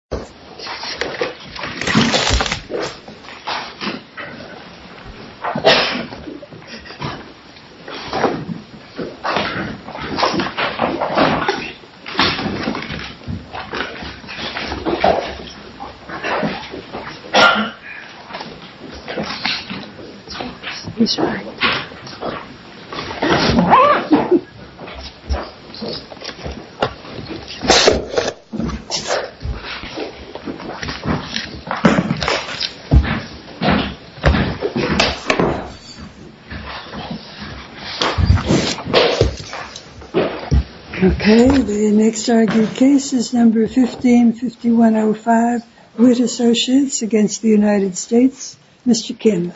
College National Bank of Nevada PRACTICES Gov. Bruce H. Jackson's Office itís all I have Okay, the next argued case is number 15-5105, Whit Associates against the United States, Mr. Kim.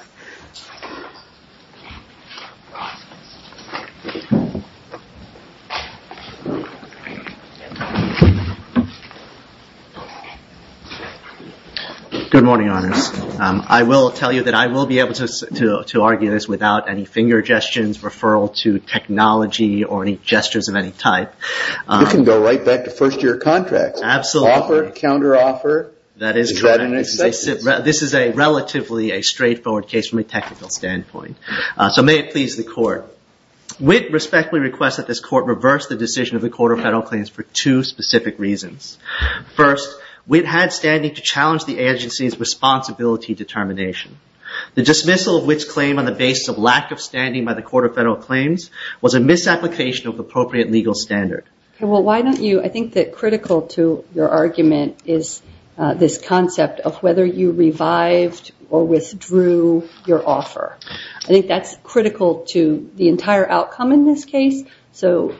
Good morning, Honors. I will tell you that I will be able to argue this without any finger gestures, referral to technology or any gestures of any type. You can go right back to first-year contracts. Absolutely. Offer, counter-offer. That is correct. Is that an exception? This is a relatively straightforward case from a technical standpoint. So may it please the Court. Whit respectfully requests that this Court reverse the decision of the Court of Federal Claims for two specific reasons. First, Whit had standing to challenge the agencyís responsibility determination. The dismissal of Whitís claim on the basis of lack of standing by the Court of Federal Claims was a misapplication of appropriate legal standard. I think that critical to your argument is this concept of whether you revived or withdrew your offer. I think thatís critical to the entire outcome in this case. So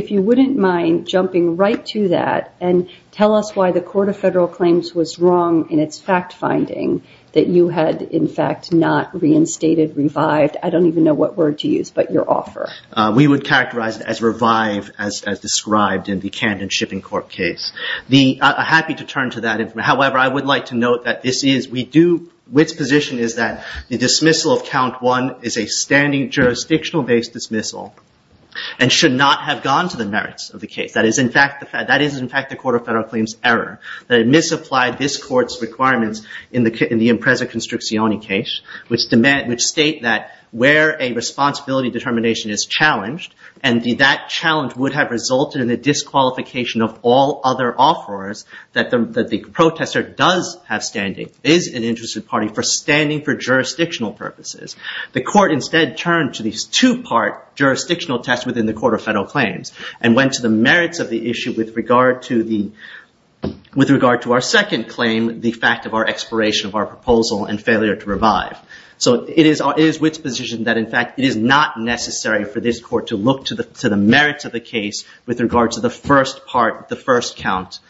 if you wouldnít mind jumping right to that and tell us why the Court of Federal Claims was wrong in its fact-finding that you had in fact not reinstated, revived, I donít even know what word to use, but your offer. We would characterize it as revive, as described in the Canton Shipping Corp case. Iíd be happy to turn to that. However, I would like to note that this isóWhitís position is that the dismissal of Count 1 is a standing jurisdictional-based dismissal and should not have gone to the merits of the case. That is in fact the Court of Federal Claimsí error. They misapplied this Courtís requirements in the Impreza Construcciones case, which state that where a responsibility determination is challenged and that challenge would have resulted in the disqualification of all other offers that the protester does have standing, is an interested party for standing for jurisdictional purposes. The Court instead turned to these two-part jurisdictional tests within the Court of Federal Claims and went to the merits of the issue with regard to our second claim, the fact of our expiration of our proposal and failure to revive. So it is Whitís position that in fact it is not necessary for this Court to look to the merits of the case with regard to the first part, the first count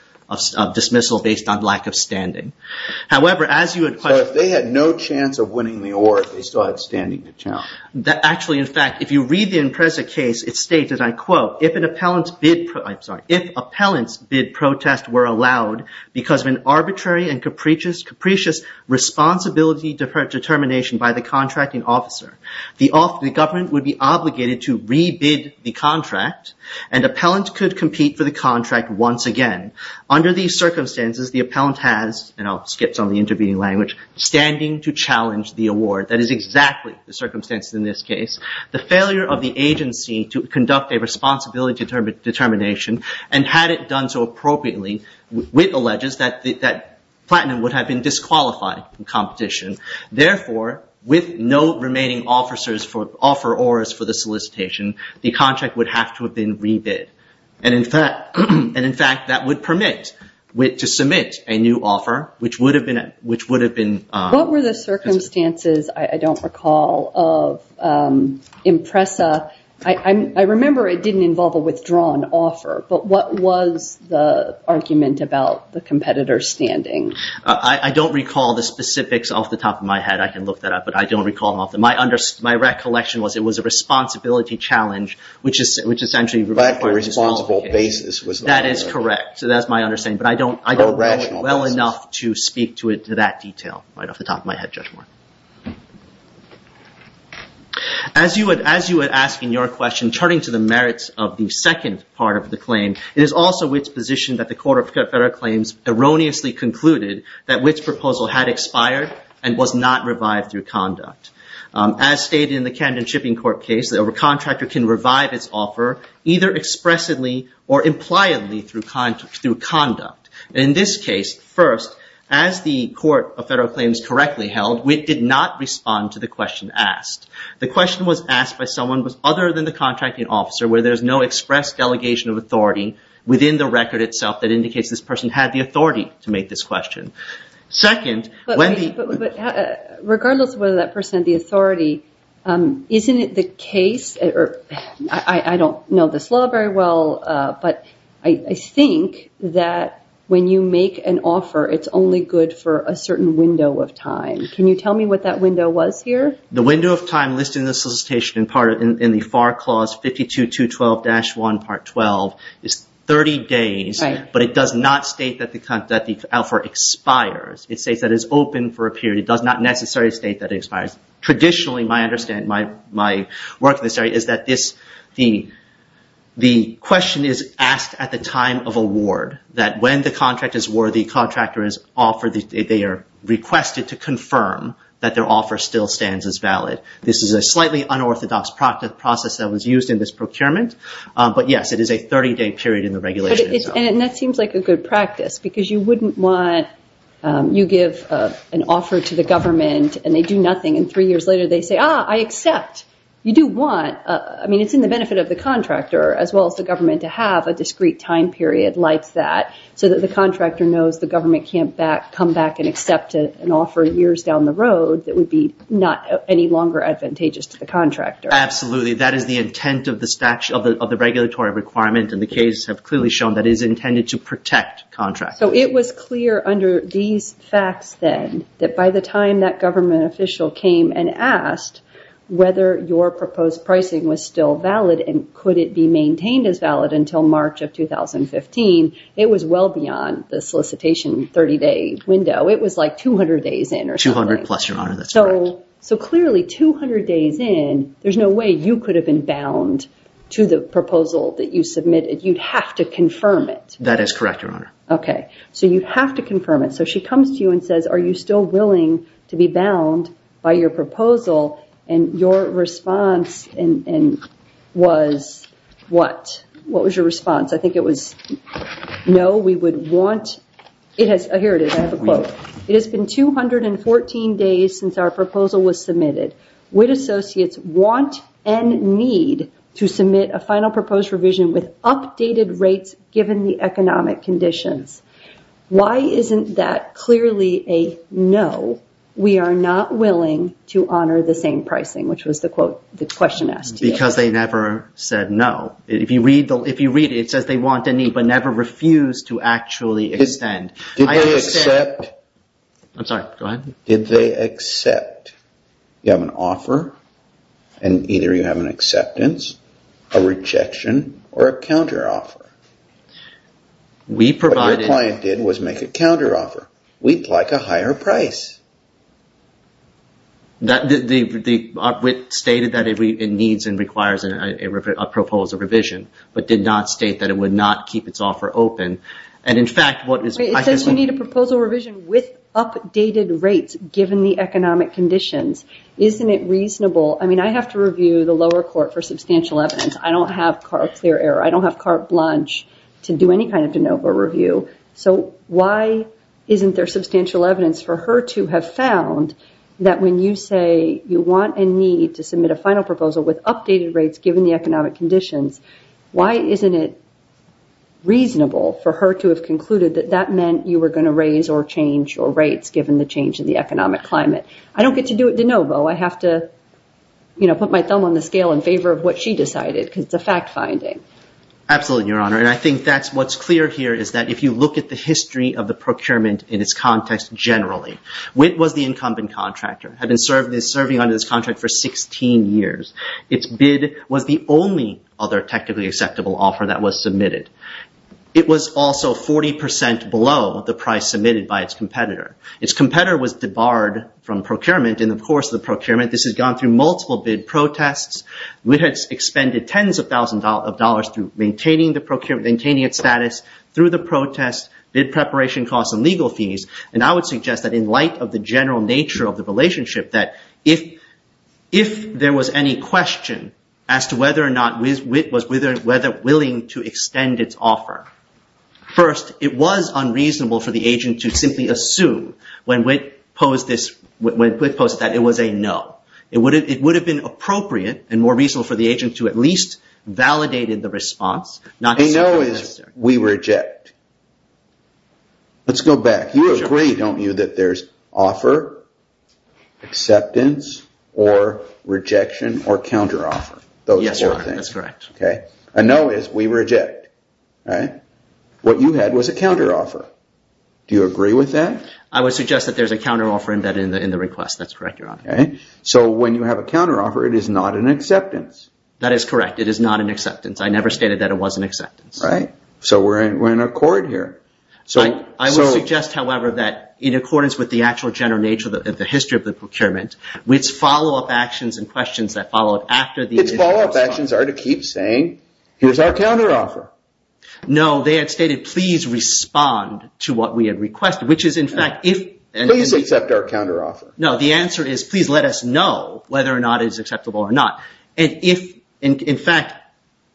of dismissal based on lack of standing. However, as you wouldó So if they had no chance of winning the award, they still had standing to challenge. Actually, in fact, if you read the Impreza case, it states, as I quote, ìIf an appellantís bid protest were allowed because of an arbitrary and capricious responsibility determination by the contracting officer, the government would be obligated to re-bid the contract and appellant could compete for the contract once again. Under these circumstances, the appellant hasóand Iíll skip some of the intervening languageóstanding to challenge the award. That is exactly the circumstances in this case. The failure of the agency to conduct a responsibility determination and had it done so appropriately, Whit alleges that Platinum would have been disqualified from competition. Therefore, with no remaining offerors for the solicitation, the contract would have to have been re-bid. In fact, that would permit Whit to submit a new offer, which would have beenó What were the circumstances, I donít recall, of Impreza? I remember it didnít involve a withdrawn offer, but what was the argument about the competitorís standing? I donít recall the specifics off the top of my head. I can look that up, but I donít recall. My recollection was it was a responsibility challenge, which essentiallyó But a responsible basis. That is correct. Thatís my understanding, but I donít know well enough to speak to that detail right off the top of my head, Judge Warren. As you were asking your question, turning to the merits of the second part of the claim, it is also Whitís position that the Court of Federal Claims erroneously concluded that Whitís proposal had expired and was not revived through conduct. As stated in the Candidate Shipping Court case, a contractor can revive its offer either expressively or impliedly through conduct. In this case, first, as the Court of Federal Claims correctly held, Whit did not respond to the question asked. The question was asked by someone other than the contracting officer, where there is no express delegation of authority within the record itself that indicates this person had the authority to make this question. Secondó But regardless of whether that person had the authority, isnít it the caseóI donít know this law very well, but I think that when you make an offer, itís only good for a certain window of time. Can you tell me what that window was here? The window of time listed in the solicitation in the FAR Clause 52.2.12-1.12 is 30 days, but it does not state that the offer expires. It states that it is open for a period. It does not necessarily state that it expires. Traditionally, my understanding, my work in this area is that the question is asked at the time of award, that when the contract is worthy, they are requested to confirm that their offer still stands as valid. This is a slightly unorthodox process that was used in this procurement, but yes, it is a 30-day period in the regulation. And that seems like a good practice, because you wouldnít wantóyou give an offer to the government and they do nothing, and three years later they say, ìAh, I accept.î You do wantóI mean, itís in the benefit of the contractor as well as the government to have a discrete time period like that so that the contractor knows the government canít come back and accept an offer years down the road that would be not any longer advantageous to the contractor. Absolutely. That is the intent of the statutoryóof the regulatory requirement, and the cases have clearly shown that it is intended to protect contractors. So it was clear under these facts then that by the time that government official came and asked whether your proposed pricing was still valid and could it be maintained as valid until March of 2015, it was well beyond the solicitation 30-day window. It was like 200 days in or something. Two hundred plus, Your Honor. Thatís correct. So clearly, 200 days in, thereís no way you could have been bound to the proposal that you submitted. Youíd have to confirm it. That is correct, Your Honor. Okay. So you have to confirm it. So she comes to you and says, ìAre you still willing to be bound by your proposal?î And your response was what? What was your response? I think it was, ìNo, we would wantóî Here it is. I have a quote. ìIt has been 214 days since our proposal was submitted. WIT associates want and need to submit a final proposed revision with updated rates given the economic conditions. Why isnít that clearly a no? We are not willing to honor the same pricing.î Which was the question asked to you. Because they never said no. If you read it, it says they want and need but never refused to actually extend. Did they accept? Iím sorry. Go ahead. Did they accept? You have an offer and either you have an acceptance, a rejection, or a counteroffer. What your client did was make a counteroffer. Weíd like a higher price. WIT stated that it needs and requires a proposal revision but did not state that it would not keep its offer open. It says you need a proposal revision with updated rates given the economic conditions. Isnít it reasonable? I have to review the lower court for substantial evidence. I donít have carte blanche to do any kind of de novo review. Why isnít there substantial evidence for her to have found that when you say you want and need to submit a final proposal with updated rates given the economic conditions, why isnít it reasonable for her to have concluded that that meant you were going to raise or change your rates given the change in the economic climate? I donít get to do it de novo. I have to put my thumb on the scale in favor of what she decided because itís a fact finding. Absolutely, Your Honor, and I think thatís whatís clear here is that if you look at the history of the procurement in its context generally, WIT was the incumbent contractor, had been serving under this contract for 16 years. Its bid was the only other technically acceptable offer that was submitted. It was also 40% below the price submitted by its competitor. Its competitor was debarred from procurement in the course of the procurement. This has gone through multiple bid protests. WIT has expended tens of thousands of dollars through maintaining its status through the protests, bid preparation costs and legal fees, and I would suggest that in light of the general nature of the relationship that if there was any question as to whether or not WIT was willing to extend its offer, first, it was unreasonable for the agent to simply assume when WIT posted that it was a ìno.î It would have been appropriate and more reasonable for the agent to at least validate the response. A ìnoî is ìwe reject.î Letís go back. You agree, donít you, that thereís offer, acceptance or rejection or counteroffer? Yes, Your Honor, thatís correct. A ìnoî is ìwe reject.î What you had was a counteroffer. Do you agree with that? I would suggest that thereís a counteroffer in the request. Thatís correct, Your Honor. So when you have a counteroffer, it is not an acceptance. That is correct. It is not an acceptance. I never stated that it was an acceptance. So weíre in accord here. I would suggest, however, that in accordance with the actual general nature of the history of the procurement, WITís follow-up actions and questions that follow up after the initial responseó Its follow-up actions are to keep saying, ìHereís our counteroffer.î No, they had stated, ìPlease respond to what we have requested,î which is, in fact, ifó ìPlease accept our counteroffer.î No, the answer is, ìPlease let us know whether or not it is acceptable or not.î And if, in factó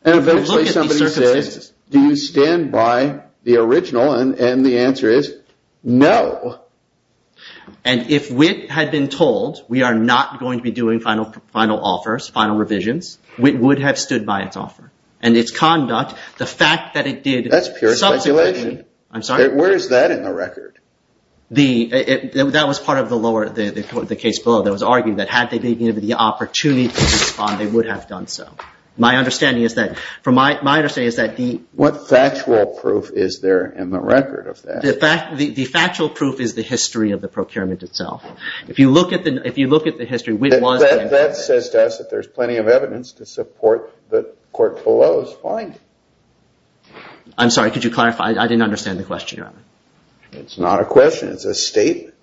And eventually somebody says, ìDo you stand by the original?î And the answer is, ìNo.î And if WIT had been told, ìWe are not going to be doing final offers, final revisions,î WIT would have stood by its offer. And its conduct, the fact that it didó Thatís pure speculation. SubsequentlyóIím sorry? Where is that in the record? That was part of the case below that was arguing that had they been given the opportunity to respond, they would have done so. My understanding is that theó What factual proof is there in the record of that? The factual proof is the history of the procurement itself. If you look at the history, WIT wasó That says to us that thereís plenty of evidence to support that court belowís finding. Iím sorry, could you clarify? I didnít understand the question. Itís not a question. Itís a statement.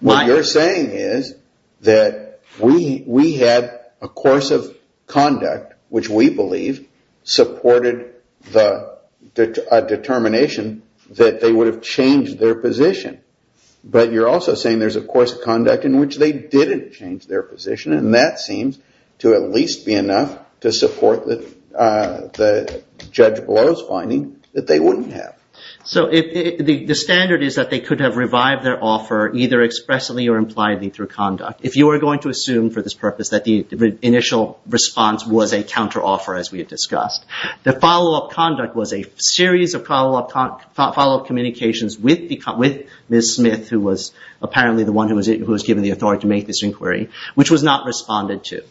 What youíre saying is that we had a course of conduct which we believe supported a determination that they would have changed their position. But youíre also saying thereís a course of conduct in which they didnít change their position, and that seems to at least be enough to support the judge belowís finding that they wouldnít have. So the standard is that they could have revived their offer either expressly or impliedly through conduct. If you are going to assume for this purpose that the initial response was a counteroffer, as we have discussed, the follow-up conduct was a series of follow-up communications with Ms. Smith, who was apparently the one who was given the authority to make this inquiry, which was not responded to.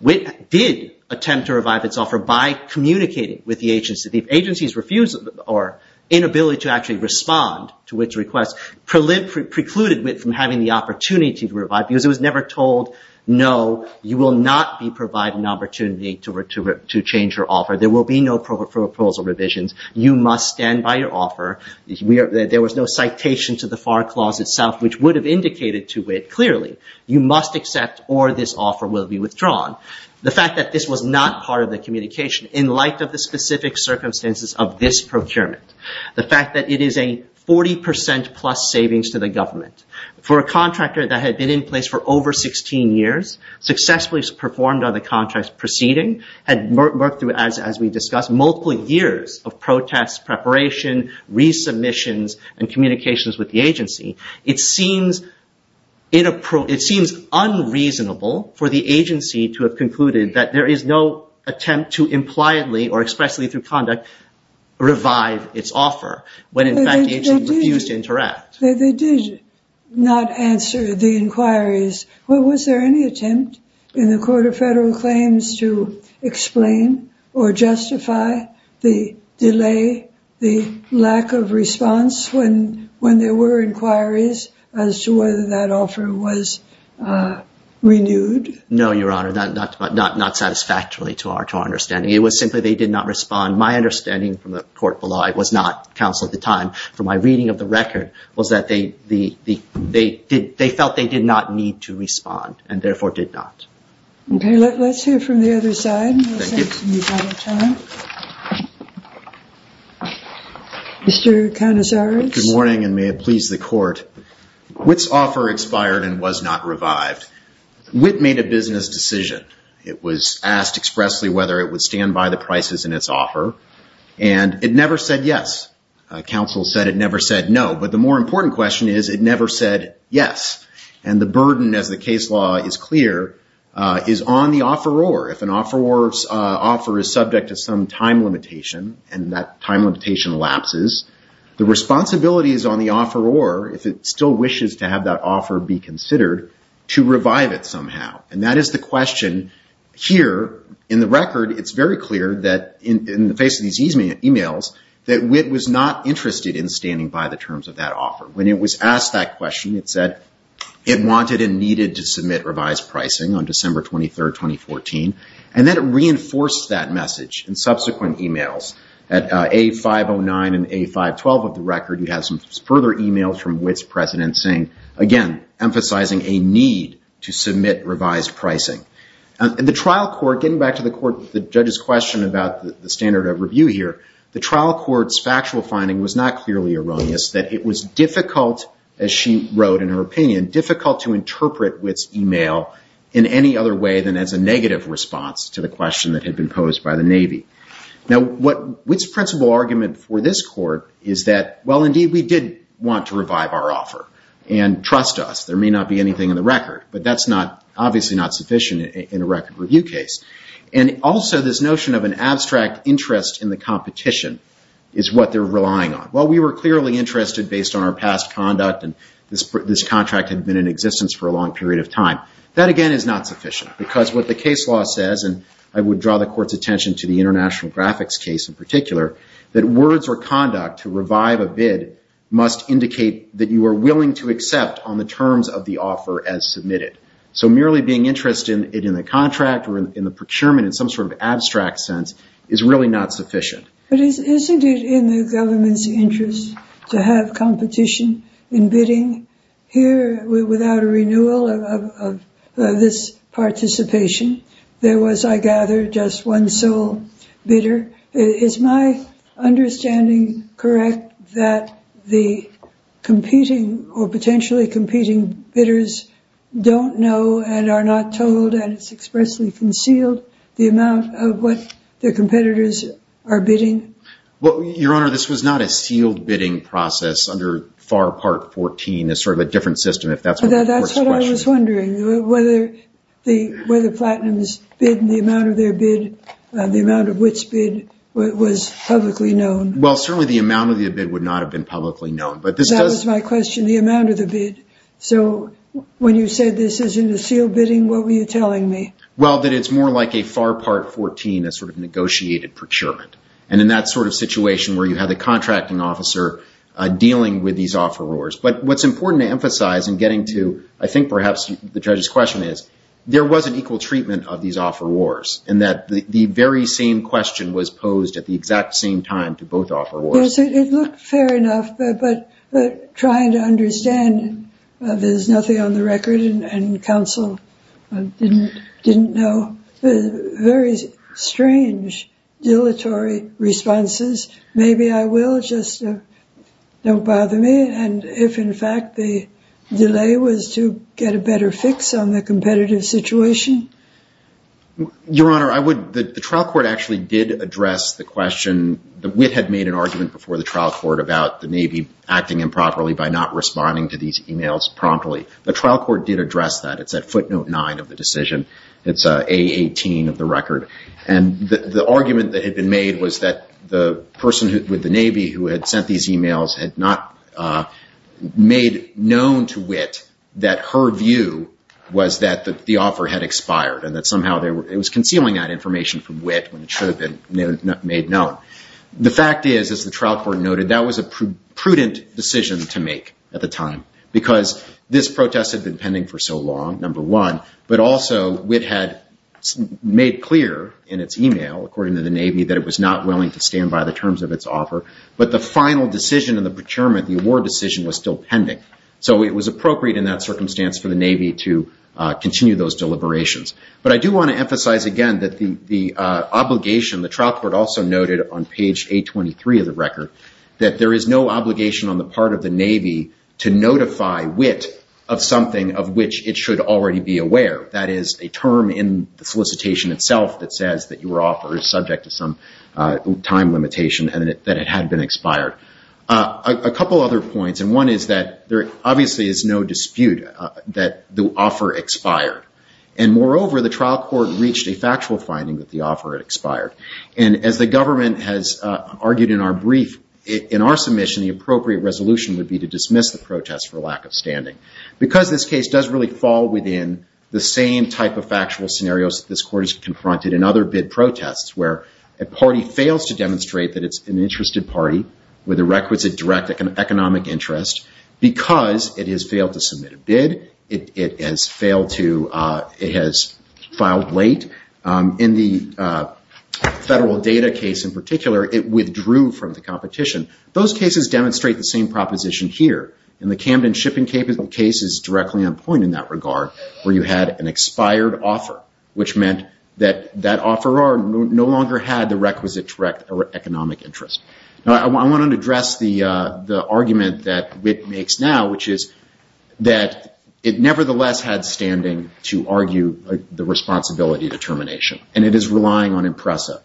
WIT did attempt to revive its offer by communicating with the agency. The agencyís refusal or inability to actually respond to WITís request precluded WIT from having the opportunity to revive because it was never told, ìNo, you will not be provided an opportunity to change your offer. There will be no proposal revisions. You must stand by your offer.î There was no citation to the FAR clause itself, which would have indicated to WIT clearly, ìYou must accept or this offer will be withdrawn.î The fact that this was not part of the communication in light of the specific circumstances of this procurement, the fact that it is a 40% plus savings to the government for a contractor that had been in place for over 16 years, successfully performed on the contract proceeding, had worked through, as we discussed, multiple years of protests, preparation, resubmissions, and communications with the agency, it seems unreasonable for the agency to have concluded that there is no attempt to impliedly or expressly through conduct revive its offer, when in fact the agency refused to interact. They did not answer the inquiries. Was there any attempt in the Court of Federal Claims to explain or justify the delay, the lack of response when there were inquiries as to whether that offer was renewed? No, Your Honor, not satisfactorily to our understanding. It was simply they did not respond. My understanding from the court below, I was not counsel at the time, from my reading of the record was that they felt they did not need to respond and therefore did not. Okay, letís hear from the other side. Thank you. Letís answer the other side. Mr. Canizares. Good morning and may it please the Court. WITís offer expired and was not revived. WIT made a business decision. It was asked expressly whether it would stand by the prices in its offer and it never said yes. Counsel said it never said no, but the more important question is it never said yes. And the burden, as the case law is clear, is on the offeror. If an offerorís offer is subject to some time limitation and that time limitation lapses, the responsibility is on the offeror, if it still wishes to have that offer be considered, to revive it somehow. And that is the question here in the record. Itís very clear that in the face of these e-mails that WIT was not interested in standing by the terms of that offer. When it was asked that question, it said it wanted and needed to submit revised pricing on December 23, 2014. And then it reinforced that message in subsequent e-mails at A509 and A512 of the record. We have some further e-mails from WITís president saying, again, emphasizing a need to submit revised pricing. In the trial court, getting back to the court, the judgeís question about the standard of review here, the trial courtís factual finding was not clearly erroneous, that it was difficult, as she wrote in her opinion, difficult to interpret WITís e-mail in any other way than as a negative response to the question that had been posed by the Navy. Now, WITís principal argument for this court is that, well, indeed, we did want to revive our offer. And trust us, there may not be anything in the record. But thatís obviously not sufficient in a record review case. And also this notion of an abstract interest in the competition is what theyíre relying on. Well, we were clearly interested based on our past conduct, and this contract had been in existence for a long period of time. That, again, is not sufficient, because what the case law says, and I would draw the courtís attention to the International Graphics case in particular, that words or conduct to revive a bid must indicate that you are willing to accept on the terms of the offer as submitted. So merely being interested in the contract or in the procurement in some sort of abstract sense is really not sufficient. But isnít it in the governmentís interest to have competition in bidding? Here, without a renewal of this participation, there was, I gather, just one sole bidder. Is my understanding correct that the competing or potentially competing bidders donít know and are not told, and itís expressly concealed, the amount of what their competitors are bidding? Well, Your Honor, this was not a sealed bidding process under FAR Part 14. Itís sort of a different system, if thatís what the courtís questioning. Thatís what I was wondering, whether Platinumís bid and the amount of their bid, the amount of which bid, was publicly known. Well, certainly the amount of the bid would not have been publicly known. That was my question, the amount of the bid. So when you said this isnít a sealed bidding, what were you telling me? Well, that itís more like a FAR Part 14, a sort of negotiated procurement, and in that sort of situation where you have the contracting officer dealing with these offerors. But whatís important to emphasize in getting to, I think perhaps the judgeís question is, there was an equal treatment of these offerors, and that the very same question was posed at the exact same time to both offerors. Well, it looked fair enough, but trying to understand, thereís nothing on the record, and counsel didnít know. Very strange, dilatory responses. Maybe I will, just donít bother me. And if, in fact, the delay was to get a better fix on the competitive situation? Your Honor, the trial court actually did address the question. Witt had made an argument before the trial court about the Navy acting improperly by not responding to these emails promptly. The trial court did address that. Itís at footnote 9 of the decision. Itís A18 of the record. And the argument that had been made was that the person with the Navy who had sent these emails had not made known to Witt that her view was that the offer had expired, and that somehow it was concealing that information from Witt, when it should have been made known. The fact is, as the trial court noted, that was a prudent decision to make at the time, because this protest had been pending for so long, number one, but also Witt had made clear in its email, according to the Navy, that it was not willing to stand by the terms of its offer. But the final decision in the procurement, the award decision, was still pending. So it was appropriate in that circumstance for the Navy to continue those deliberations. But I do want to emphasize again that the obligation, the trial court also noted on page 823 of the record, that there is no obligation on the part of the Navy to notify Witt of something of which it should already be aware. That is, a term in the solicitation itself that says that your offer is subject to some time limitation and that it had been expired. A couple other points, and one is that there obviously is no dispute that the offer expired. And moreover, the trial court reached a factual finding that the offer had expired. And as the government has argued in our brief, in our submission, the appropriate resolution would be to dismiss the protest for lack of standing. Because this case does really fall within the same type of factual scenarios that this court has confronted in other bid protests, where a party fails to demonstrate that it's an interested party with a requisite direct economic interest because it has failed to submit a bid, it has filed late. In the federal data case in particular, it withdrew from the competition. Those cases demonstrate the same proposition here. And the Camden shipping case is directly on point in that regard, where you had an expired offer, which meant that that offeror no longer had the requisite direct economic interest. I want to address the argument that Witt makes now, which is that it nevertheless had standing to argue the responsibility determination, and it is relying on IMPRESA.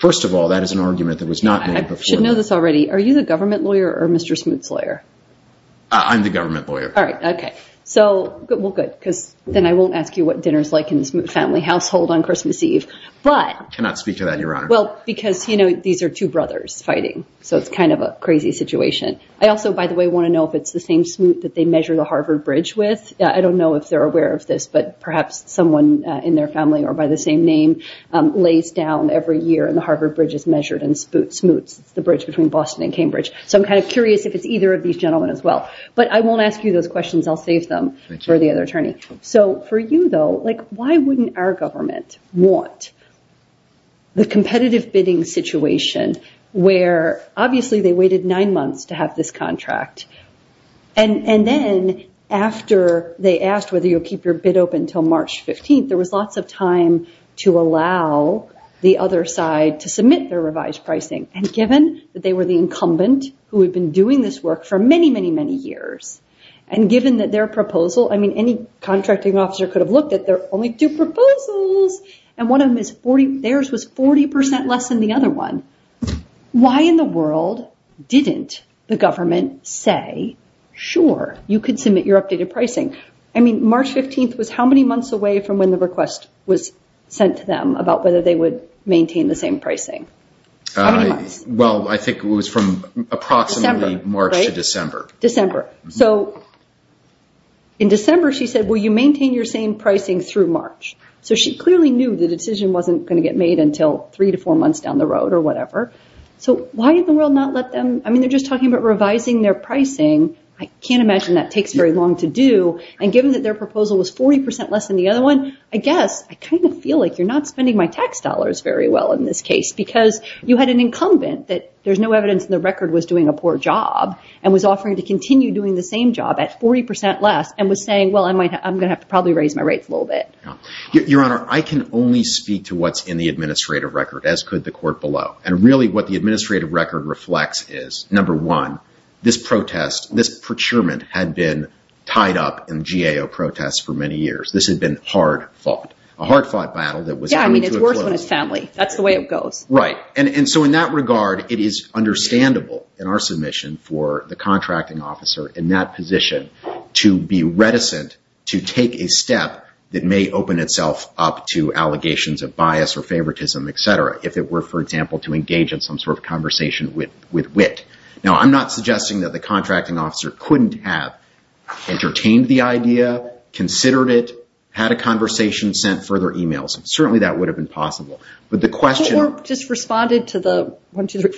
First of all, that is an argument that was not made before. I should know this already. Are you the government lawyer or Mr. Smoot's lawyer? I'm the government lawyer. Well, good, because then I won't ask you what dinner is like in the Smoot family household on Christmas Eve. I cannot speak to that, Your Honor. Because these are two brothers fighting, so it's kind of a crazy situation. I also, by the way, want to know if it's the same Smoot that they measure the Harvard Bridge with. I don't know if they're aware of this, but perhaps someone in their family or by the same name lays down every year and the Harvard Bridge is measured in Smoot's, the bridge between Boston and Cambridge. So I'm kind of curious if it's either of these gentlemen as well. But I won't ask you those questions. I'll save them for the other attorney. So for you, though, why wouldn't our government want the competitive bidding situation where obviously they waited nine months to have this contract, and then after they asked whether you'll keep your bid open until March 15th, there was lots of time to allow the other side to submit their revised pricing. And given that they were the incumbent who had been doing this work for many, many, many years, and given that their proposal, I mean, any contracting officer could have looked at their only two proposals, and one of theirs was 40% less than the other one, why in the world didn't the government say, sure, you could submit your updated pricing? I mean, March 15th was how many months away from when the request was sent to them about whether they would maintain the same pricing? How many months? Well, I think it was from approximately March to December. December. So in December, she said, will you maintain your same pricing through March? So she clearly knew the decision wasn't going to get made until three to four months down the road or whatever. So why in the world not let them? I mean, they're just talking about revising their pricing. I can't imagine that takes very long to do. And given that their proposal was 40% less than the other one, I guess I kind of feel like you're not spending my tax dollars very well in this case because you had an incumbent that there's no evidence in the record was doing a poor job and was offering to continue doing the same job at 40% less and was saying, well, I'm going to have to probably raise my rates a little bit. Your Honor, I can only speak to what's in the administrative record, as could the court below. And really what the administrative record reflects is, number one, this protest, this procurement had been tied up in GAO protests for many years. This had been hard fought. A hard fought battle that was coming to a close. Yeah, I mean, it's worse when it's family. That's the way it goes. Right. And so in that regard, it is understandable in our submission for the contracting officer in that position to be reticent to take a step that may open itself up to allegations of bias or favoritism, et cetera, if it were, for example, to engage in some sort of conversation with wit. Now, I'm not suggesting that the contracting officer couldn't have entertained the idea, considered it, had a conversation, sent further emails. Certainly, that would have been possible. But the question... Or just responded to the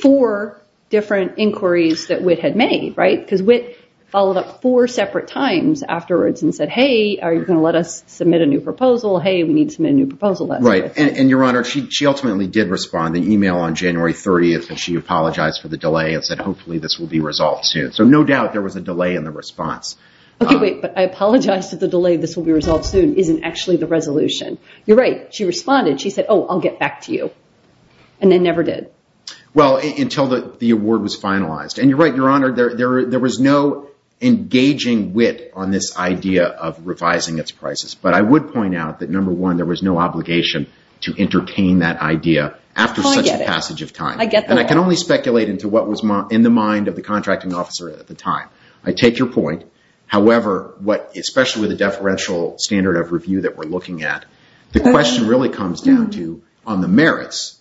four different inquiries that wit had made, right? Because wit followed up four separate times afterwards and said, hey, are you going to let us submit a new proposal? Hey, we need to submit a new proposal. Right. And, Your Honor, she ultimately did respond. She responded to the email on January 30th, and she apologized for the delay and said hopefully this will be resolved soon. So no doubt there was a delay in the response. Okay, wait. But I apologize that the delay, this will be resolved soon, isn't actually the resolution. You're right. She responded. She said, oh, I'll get back to you. And they never did. Well, until the award was finalized. And you're right, Your Honor. There was no engaging wit on this idea of revising its prices. But I would point out that, number one, there was no obligation to entertain that idea after such a passage of time. Oh, I get it. I get that. And I can only speculate into what was in the mind of the contracting officer at the time. I take your point. However, especially with the deferential standard of review that we're looking at, the question really comes down to on the merits,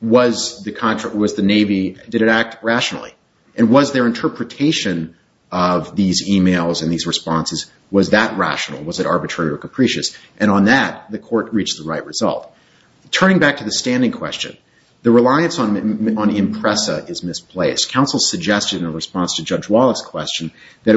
was the Navy, did it act rationally? And was their interpretation of these emails and these responses, was that rational? Was it arbitrary or capricious? And on that, the court reached the right result. Turning back to the standing question, the reliance on IMPRESA is misplaced. Counsel suggested in response to Judge Wallach's question that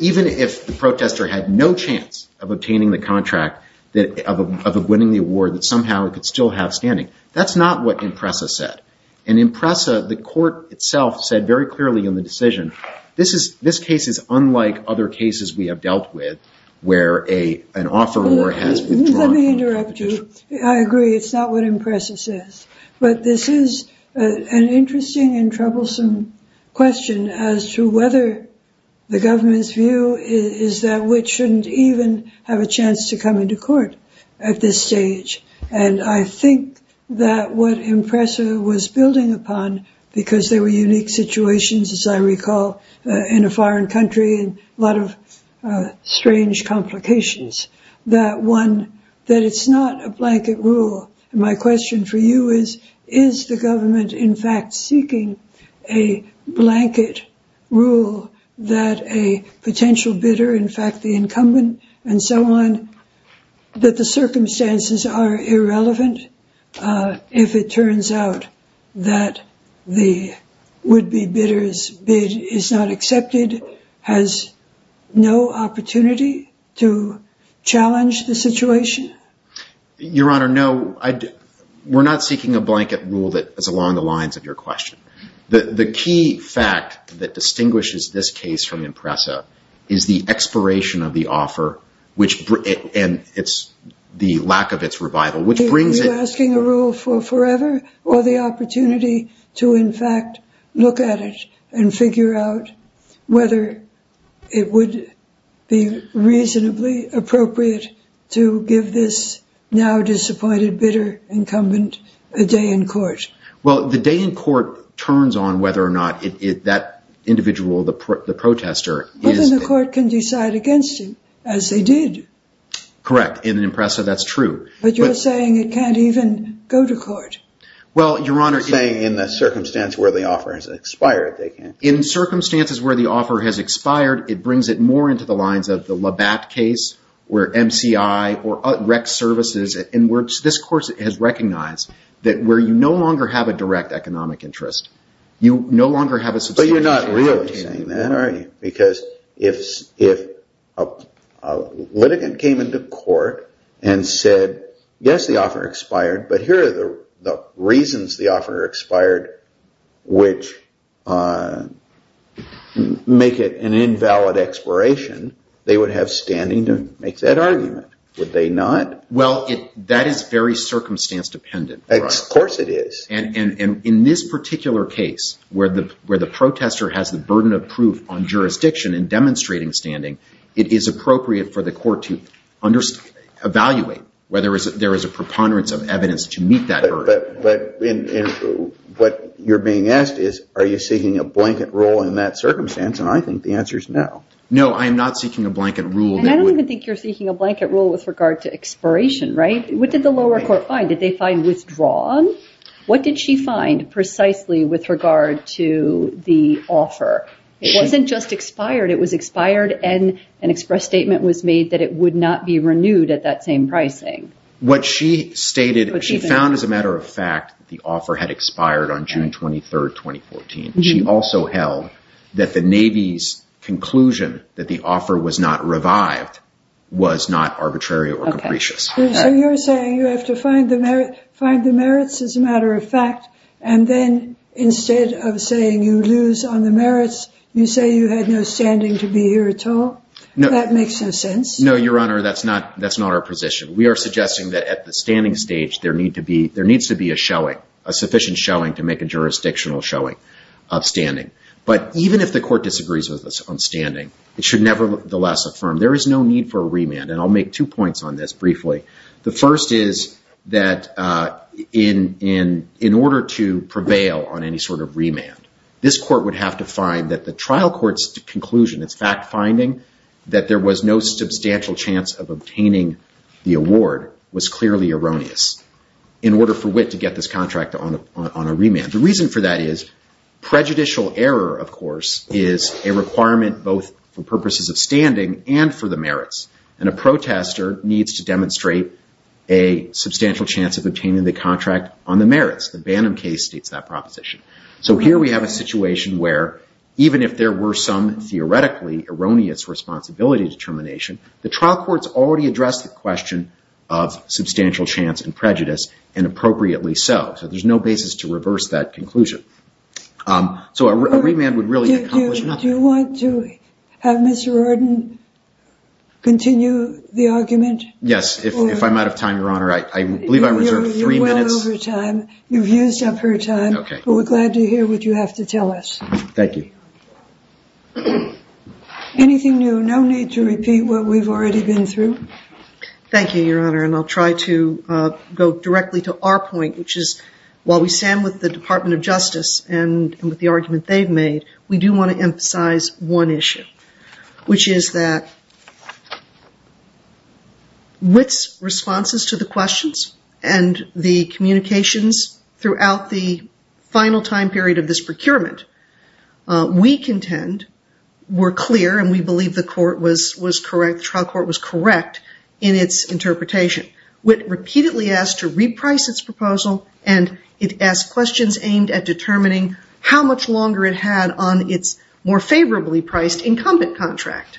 even if the protester had no chance of obtaining the contract, of winning the award, that somehow it could still have standing. That's not what IMPRESA said. And IMPRESA, the court itself, said very clearly in the decision, this case is unlike other cases we have dealt with where an offeror has withdrawn. Let me interrupt you. I agree. It's not what IMPRESA says. But this is an interesting and troublesome question as to whether the government's view is that we shouldn't even have a chance to come into court at this stage. And I think that what IMPRESA was building upon, because there were unique situations, as I recall, in a foreign country and a lot of strange complications, that one, that it's not a blanket rule. And my question for you is, is the government in fact seeking a blanket rule that a potential bidder, in fact the incumbent and so on, that the circumstances are irrelevant? If it turns out that the would-be bidder's bid is not accepted, has no opportunity to challenge the situation? Your Honor, no. We're not seeking a blanket rule that is along the lines of your question. The key fact that distinguishes this case from IMPRESA is the expiration of the offer and the lack of its revival. Are you asking a rule for forever or the opportunity to in fact look at it and figure out whether it would be reasonably appropriate to give this now disappointed bidder incumbent a day in court? Well, the day in court turns on whether or not that individual, the protester, is... But then the court can decide against it, as they did. Correct. In IMPRESA, that's true. But you're saying it can't even go to court. Well, Your Honor... You're saying in the circumstance where the offer has expired, they can't. In circumstances where the offer has expired, it brings it more into the lines of the Labatt case, or MCI, or rec services, in which this court has recognized that where you no longer have a direct economic interest, you no longer have a substantial... But you're not really saying that, are you? Because if a litigant came into court and said, yes, the offer expired, but here are the reasons the offer expired which make it an invalid expiration, they would have standing to make that argument, would they not? Well, that is very circumstance dependent. Of course it is. And in this particular case where the protester has the burden of proof on jurisdiction in demonstrating standing, it is appropriate for the court to evaluate whether there is a preponderance of evidence to meet that burden. But what you're being asked is, are you seeking a blanket rule in that circumstance? And I think the answer is no. No, I am not seeking a blanket rule. And I don't even think you're seeking a blanket rule with regard to expiration, right? What did the lower court find? Did they find withdrawn? What did she find precisely with regard to the offer? It wasn't just expired. It was expired and an express statement was made that it would not be renewed at that same pricing. What she stated, she found as a matter of fact, the offer had expired on June 23, 2014. She also held that the Navy's conclusion that the offer was not revived was not arbitrary or capricious. So you're saying you have to find the merits as a matter of fact, and then instead of saying you lose on the merits, you say you had no standing to be here at all? That makes no sense. No, Your Honor, that's not our position. We are suggesting that at the standing stage, there needs to be a showing, a sufficient showing to make a jurisdictional showing of standing. But even if the court disagrees with us on standing, it should nevertheless affirm there is no need for a remand. And I'll make two points on this briefly. The first is that in order to prevail on any sort of remand, this court would have to find that the trial court's conclusion, its fact finding that there was no substantial chance of obtaining the award was clearly erroneous in order for Witt to get this contract on a remand. The reason for that is prejudicial error, of course, is a requirement both for purposes of standing and for the merits. And a protester needs to demonstrate a substantial chance of obtaining the contract on the merits. The Bannum case states that proposition. So here we have a situation where even if there were some theoretically erroneous responsibility determination, the trial courts already addressed the question of substantial chance and prejudice, and appropriately so. So there's no basis to reverse that conclusion. So a remand would really accomplish nothing. Do you want to have Mr. Arden continue the argument? Yes, if I'm out of time, Your Honor. I believe I reserved three minutes. You're well over time. You've used up your time. We're glad to hear what you have to tell us. Thank you. Anything new? No need to repeat what we've already been through. Thank you, Your Honor, and I'll try to go directly to our point, which is while we stand with the Department of Justice and with the argument they've made, we do want to emphasize one issue, which is that Witt's responses to the questions and the communications throughout the final time period of this procurement we contend were clear, and we believe the trial court was correct in its interpretation. Witt repeatedly asked to reprice its proposal, and it asked questions aimed at determining how much longer it had on its more favorably priced incumbent contract.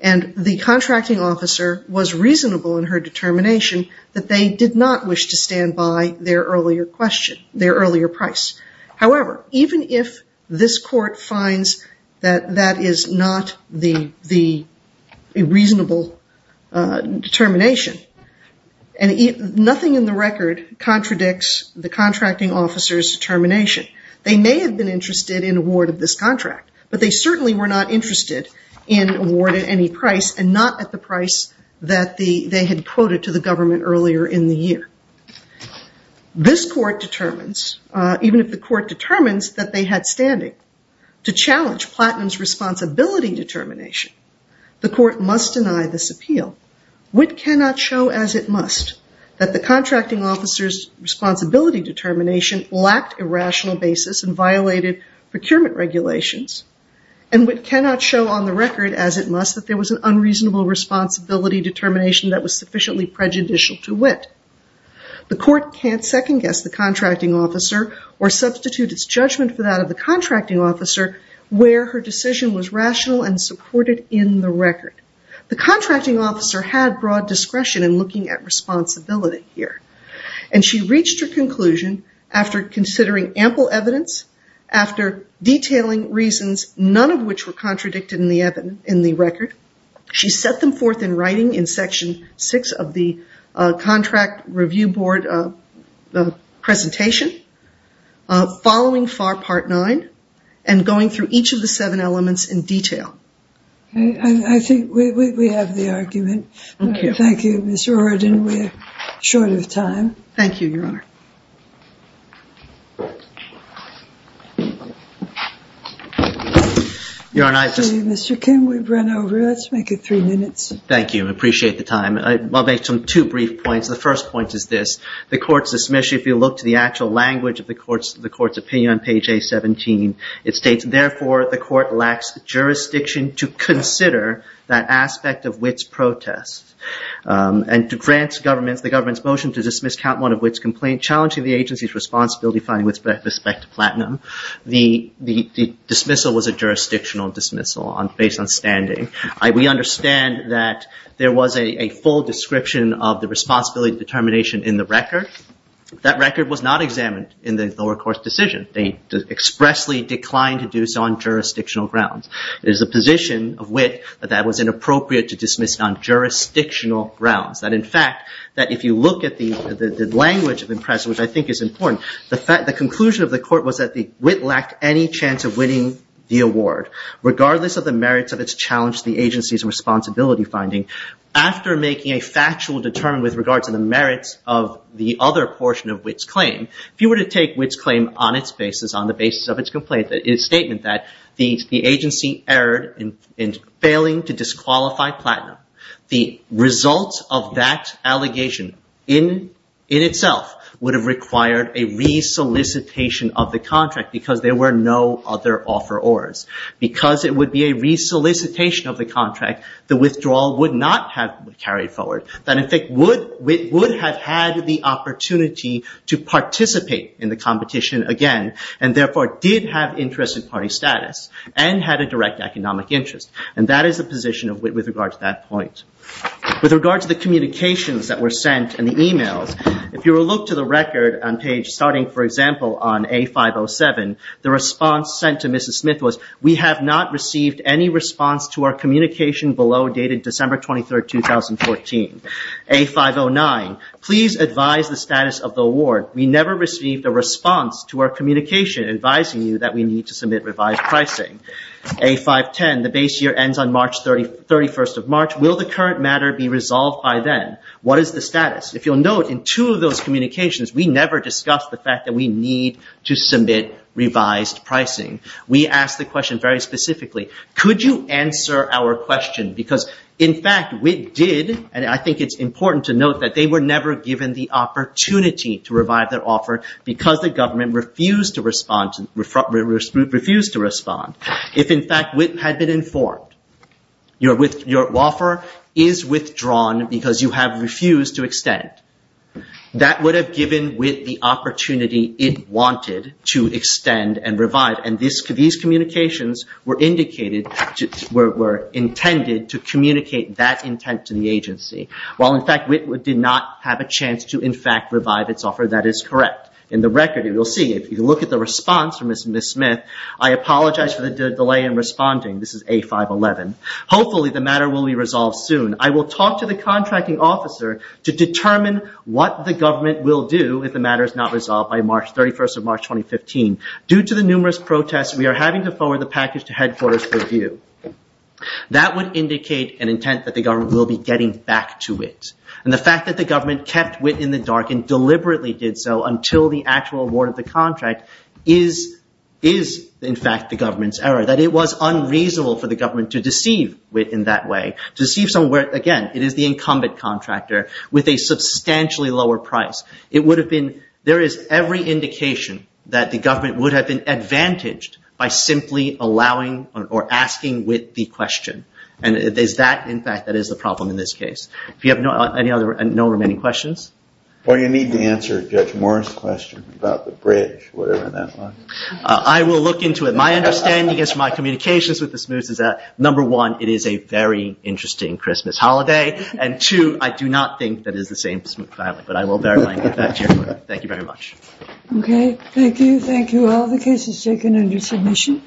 And the contracting officer was reasonable in her determination that they did not wish to stand by their earlier question, their earlier price. However, even if this court finds that that is not the reasonable determination, and nothing in the record contradicts the contracting officer's determination, they may have been interested in award of this contract, but they certainly were not interested in award at any price and not at the price that they had quoted to the government earlier in the year. This court determines, even if the court determines that they had standing, to challenge Platinum's responsibility determination, the court must deny this appeal. Witt cannot show as it must that the contracting officer's responsibility determination lacked a rational basis and violated procurement regulations, and Witt cannot show on the record as it must that there was an unreasonable responsibility determination that was sufficiently prejudicial to Witt. The court can't second guess the contracting officer or substitute its judgment for that of the contracting officer where her decision was rational and supported in the record. The contracting officer had broad discretion in looking at responsibility here, and she reached her conclusion after considering ample evidence, after detailing reasons, none of which were contradicted in the record. She set them forth in writing in Section 6 of the Contract Review Board presentation, following FAR Part 9, and going through each of the seven elements in detail. I think we have the argument. Thank you, Ms. Roriden. We're short of time. Thank you, Your Honor. Mr. Kim, we've run over. Let's make it three minutes. Thank you. I appreciate the time. I'll make two brief points. The first point is this. The court's dismission, if you look to the actual language of the court's opinion on page A17, it states, therefore, the court lacks jurisdiction to consider that aspect of Witt's protest, and to grant the government's motion to dismiss count one of Witt's complaint, challenging the agency's responsibility finding Witt's respect to platinum. The dismissal was a jurisdictional dismissal based on standing. We understand that there was a full description of the responsibility determination in the record. That record was not examined in the lower court's decision. They expressly declined to do so on jurisdictional grounds. It is the position of Witt that that was inappropriate to dismiss on jurisdictional grounds. That, in fact, that if you look at the language of the press, which I think is important, the conclusion of the court was that Witt lacked any chance of winning the award, regardless of the merits of its challenge to the agency's responsibility finding. After making a factual determination with regards to the merits of the other portion of Witt's claim, if you were to take Witt's claim on the basis of its statement that the agency erred in failing to disqualify platinum, the results of that allegation in itself would have required a re-solicitation of the contract because there were no other offerors. Because it would be a re-solicitation of the contract, the withdrawal would not have carried forward. That, in fact, Witt would have had the opportunity to participate in the competition again and therefore did have interest in party status and had a direct economic interest. And that is the position of Witt with regards to that point. With regards to the communications that were sent and the emails, if you were to look to the record on page starting, for example, on A507, the response sent to Mrs. Smith was, we have not received any response to our communication below dated December 23, 2014. A509, please advise the status of the award. We never received a response to our communication advising you that we need to submit revised pricing. A510, the base year ends on March 31st of March. Will the current matter be resolved by then? What is the status? If you'll note, in two of those communications, we never discussed the fact that we need to submit revised pricing. We asked the question very specifically, could you answer our question because, in fact, Witt did, and I think it's important to note that they were never given the opportunity to revive their offer because the government refused to respond. If, in fact, Witt had been informed, your offer is withdrawn because you have refused to extend. That would have given Witt the opportunity it wanted to extend and revive and these communications were intended to communicate that intent to the agency. While, in fact, Witt did not have a chance to, in fact, revive its offer, that is correct. In the record, you will see, if you look at the response from Mrs. Smith, I apologize for the delay in responding. This is A511. Hopefully, the matter will be resolved soon. I will talk to the contracting officer to determine what the government will do if the matter is not resolved by March 31st of March, 2015. Due to the numerous protests, we are having to forward the package to headquarters for review. That would indicate an intent that the government will be getting back to Witt. And the fact that the government kept Witt in the dark and deliberately did so until the actual award of the contract is, in fact, the government's error. That it was unreasonable for the government to deceive Witt in that way, to deceive someone where, again, it is the incumbent contractor with a substantially lower price. It would have been, there is every indication that the government would have been advantaged by simply allowing or asking Witt the question. And it is that, in fact, that is the problem in this case. Do you have any other, no remaining questions? Well, you need to answer Judge Morris' question about the bridge, whatever that was. I will look into it. My understanding is, my communications with the Smiths is that, number one, it is a very interesting Christmas holiday. And, two, I do not think that it is the same Smith family. But I will verify and get back to you. Thank you very much. Okay. Thank you. Thank you. All the cases taken under submission.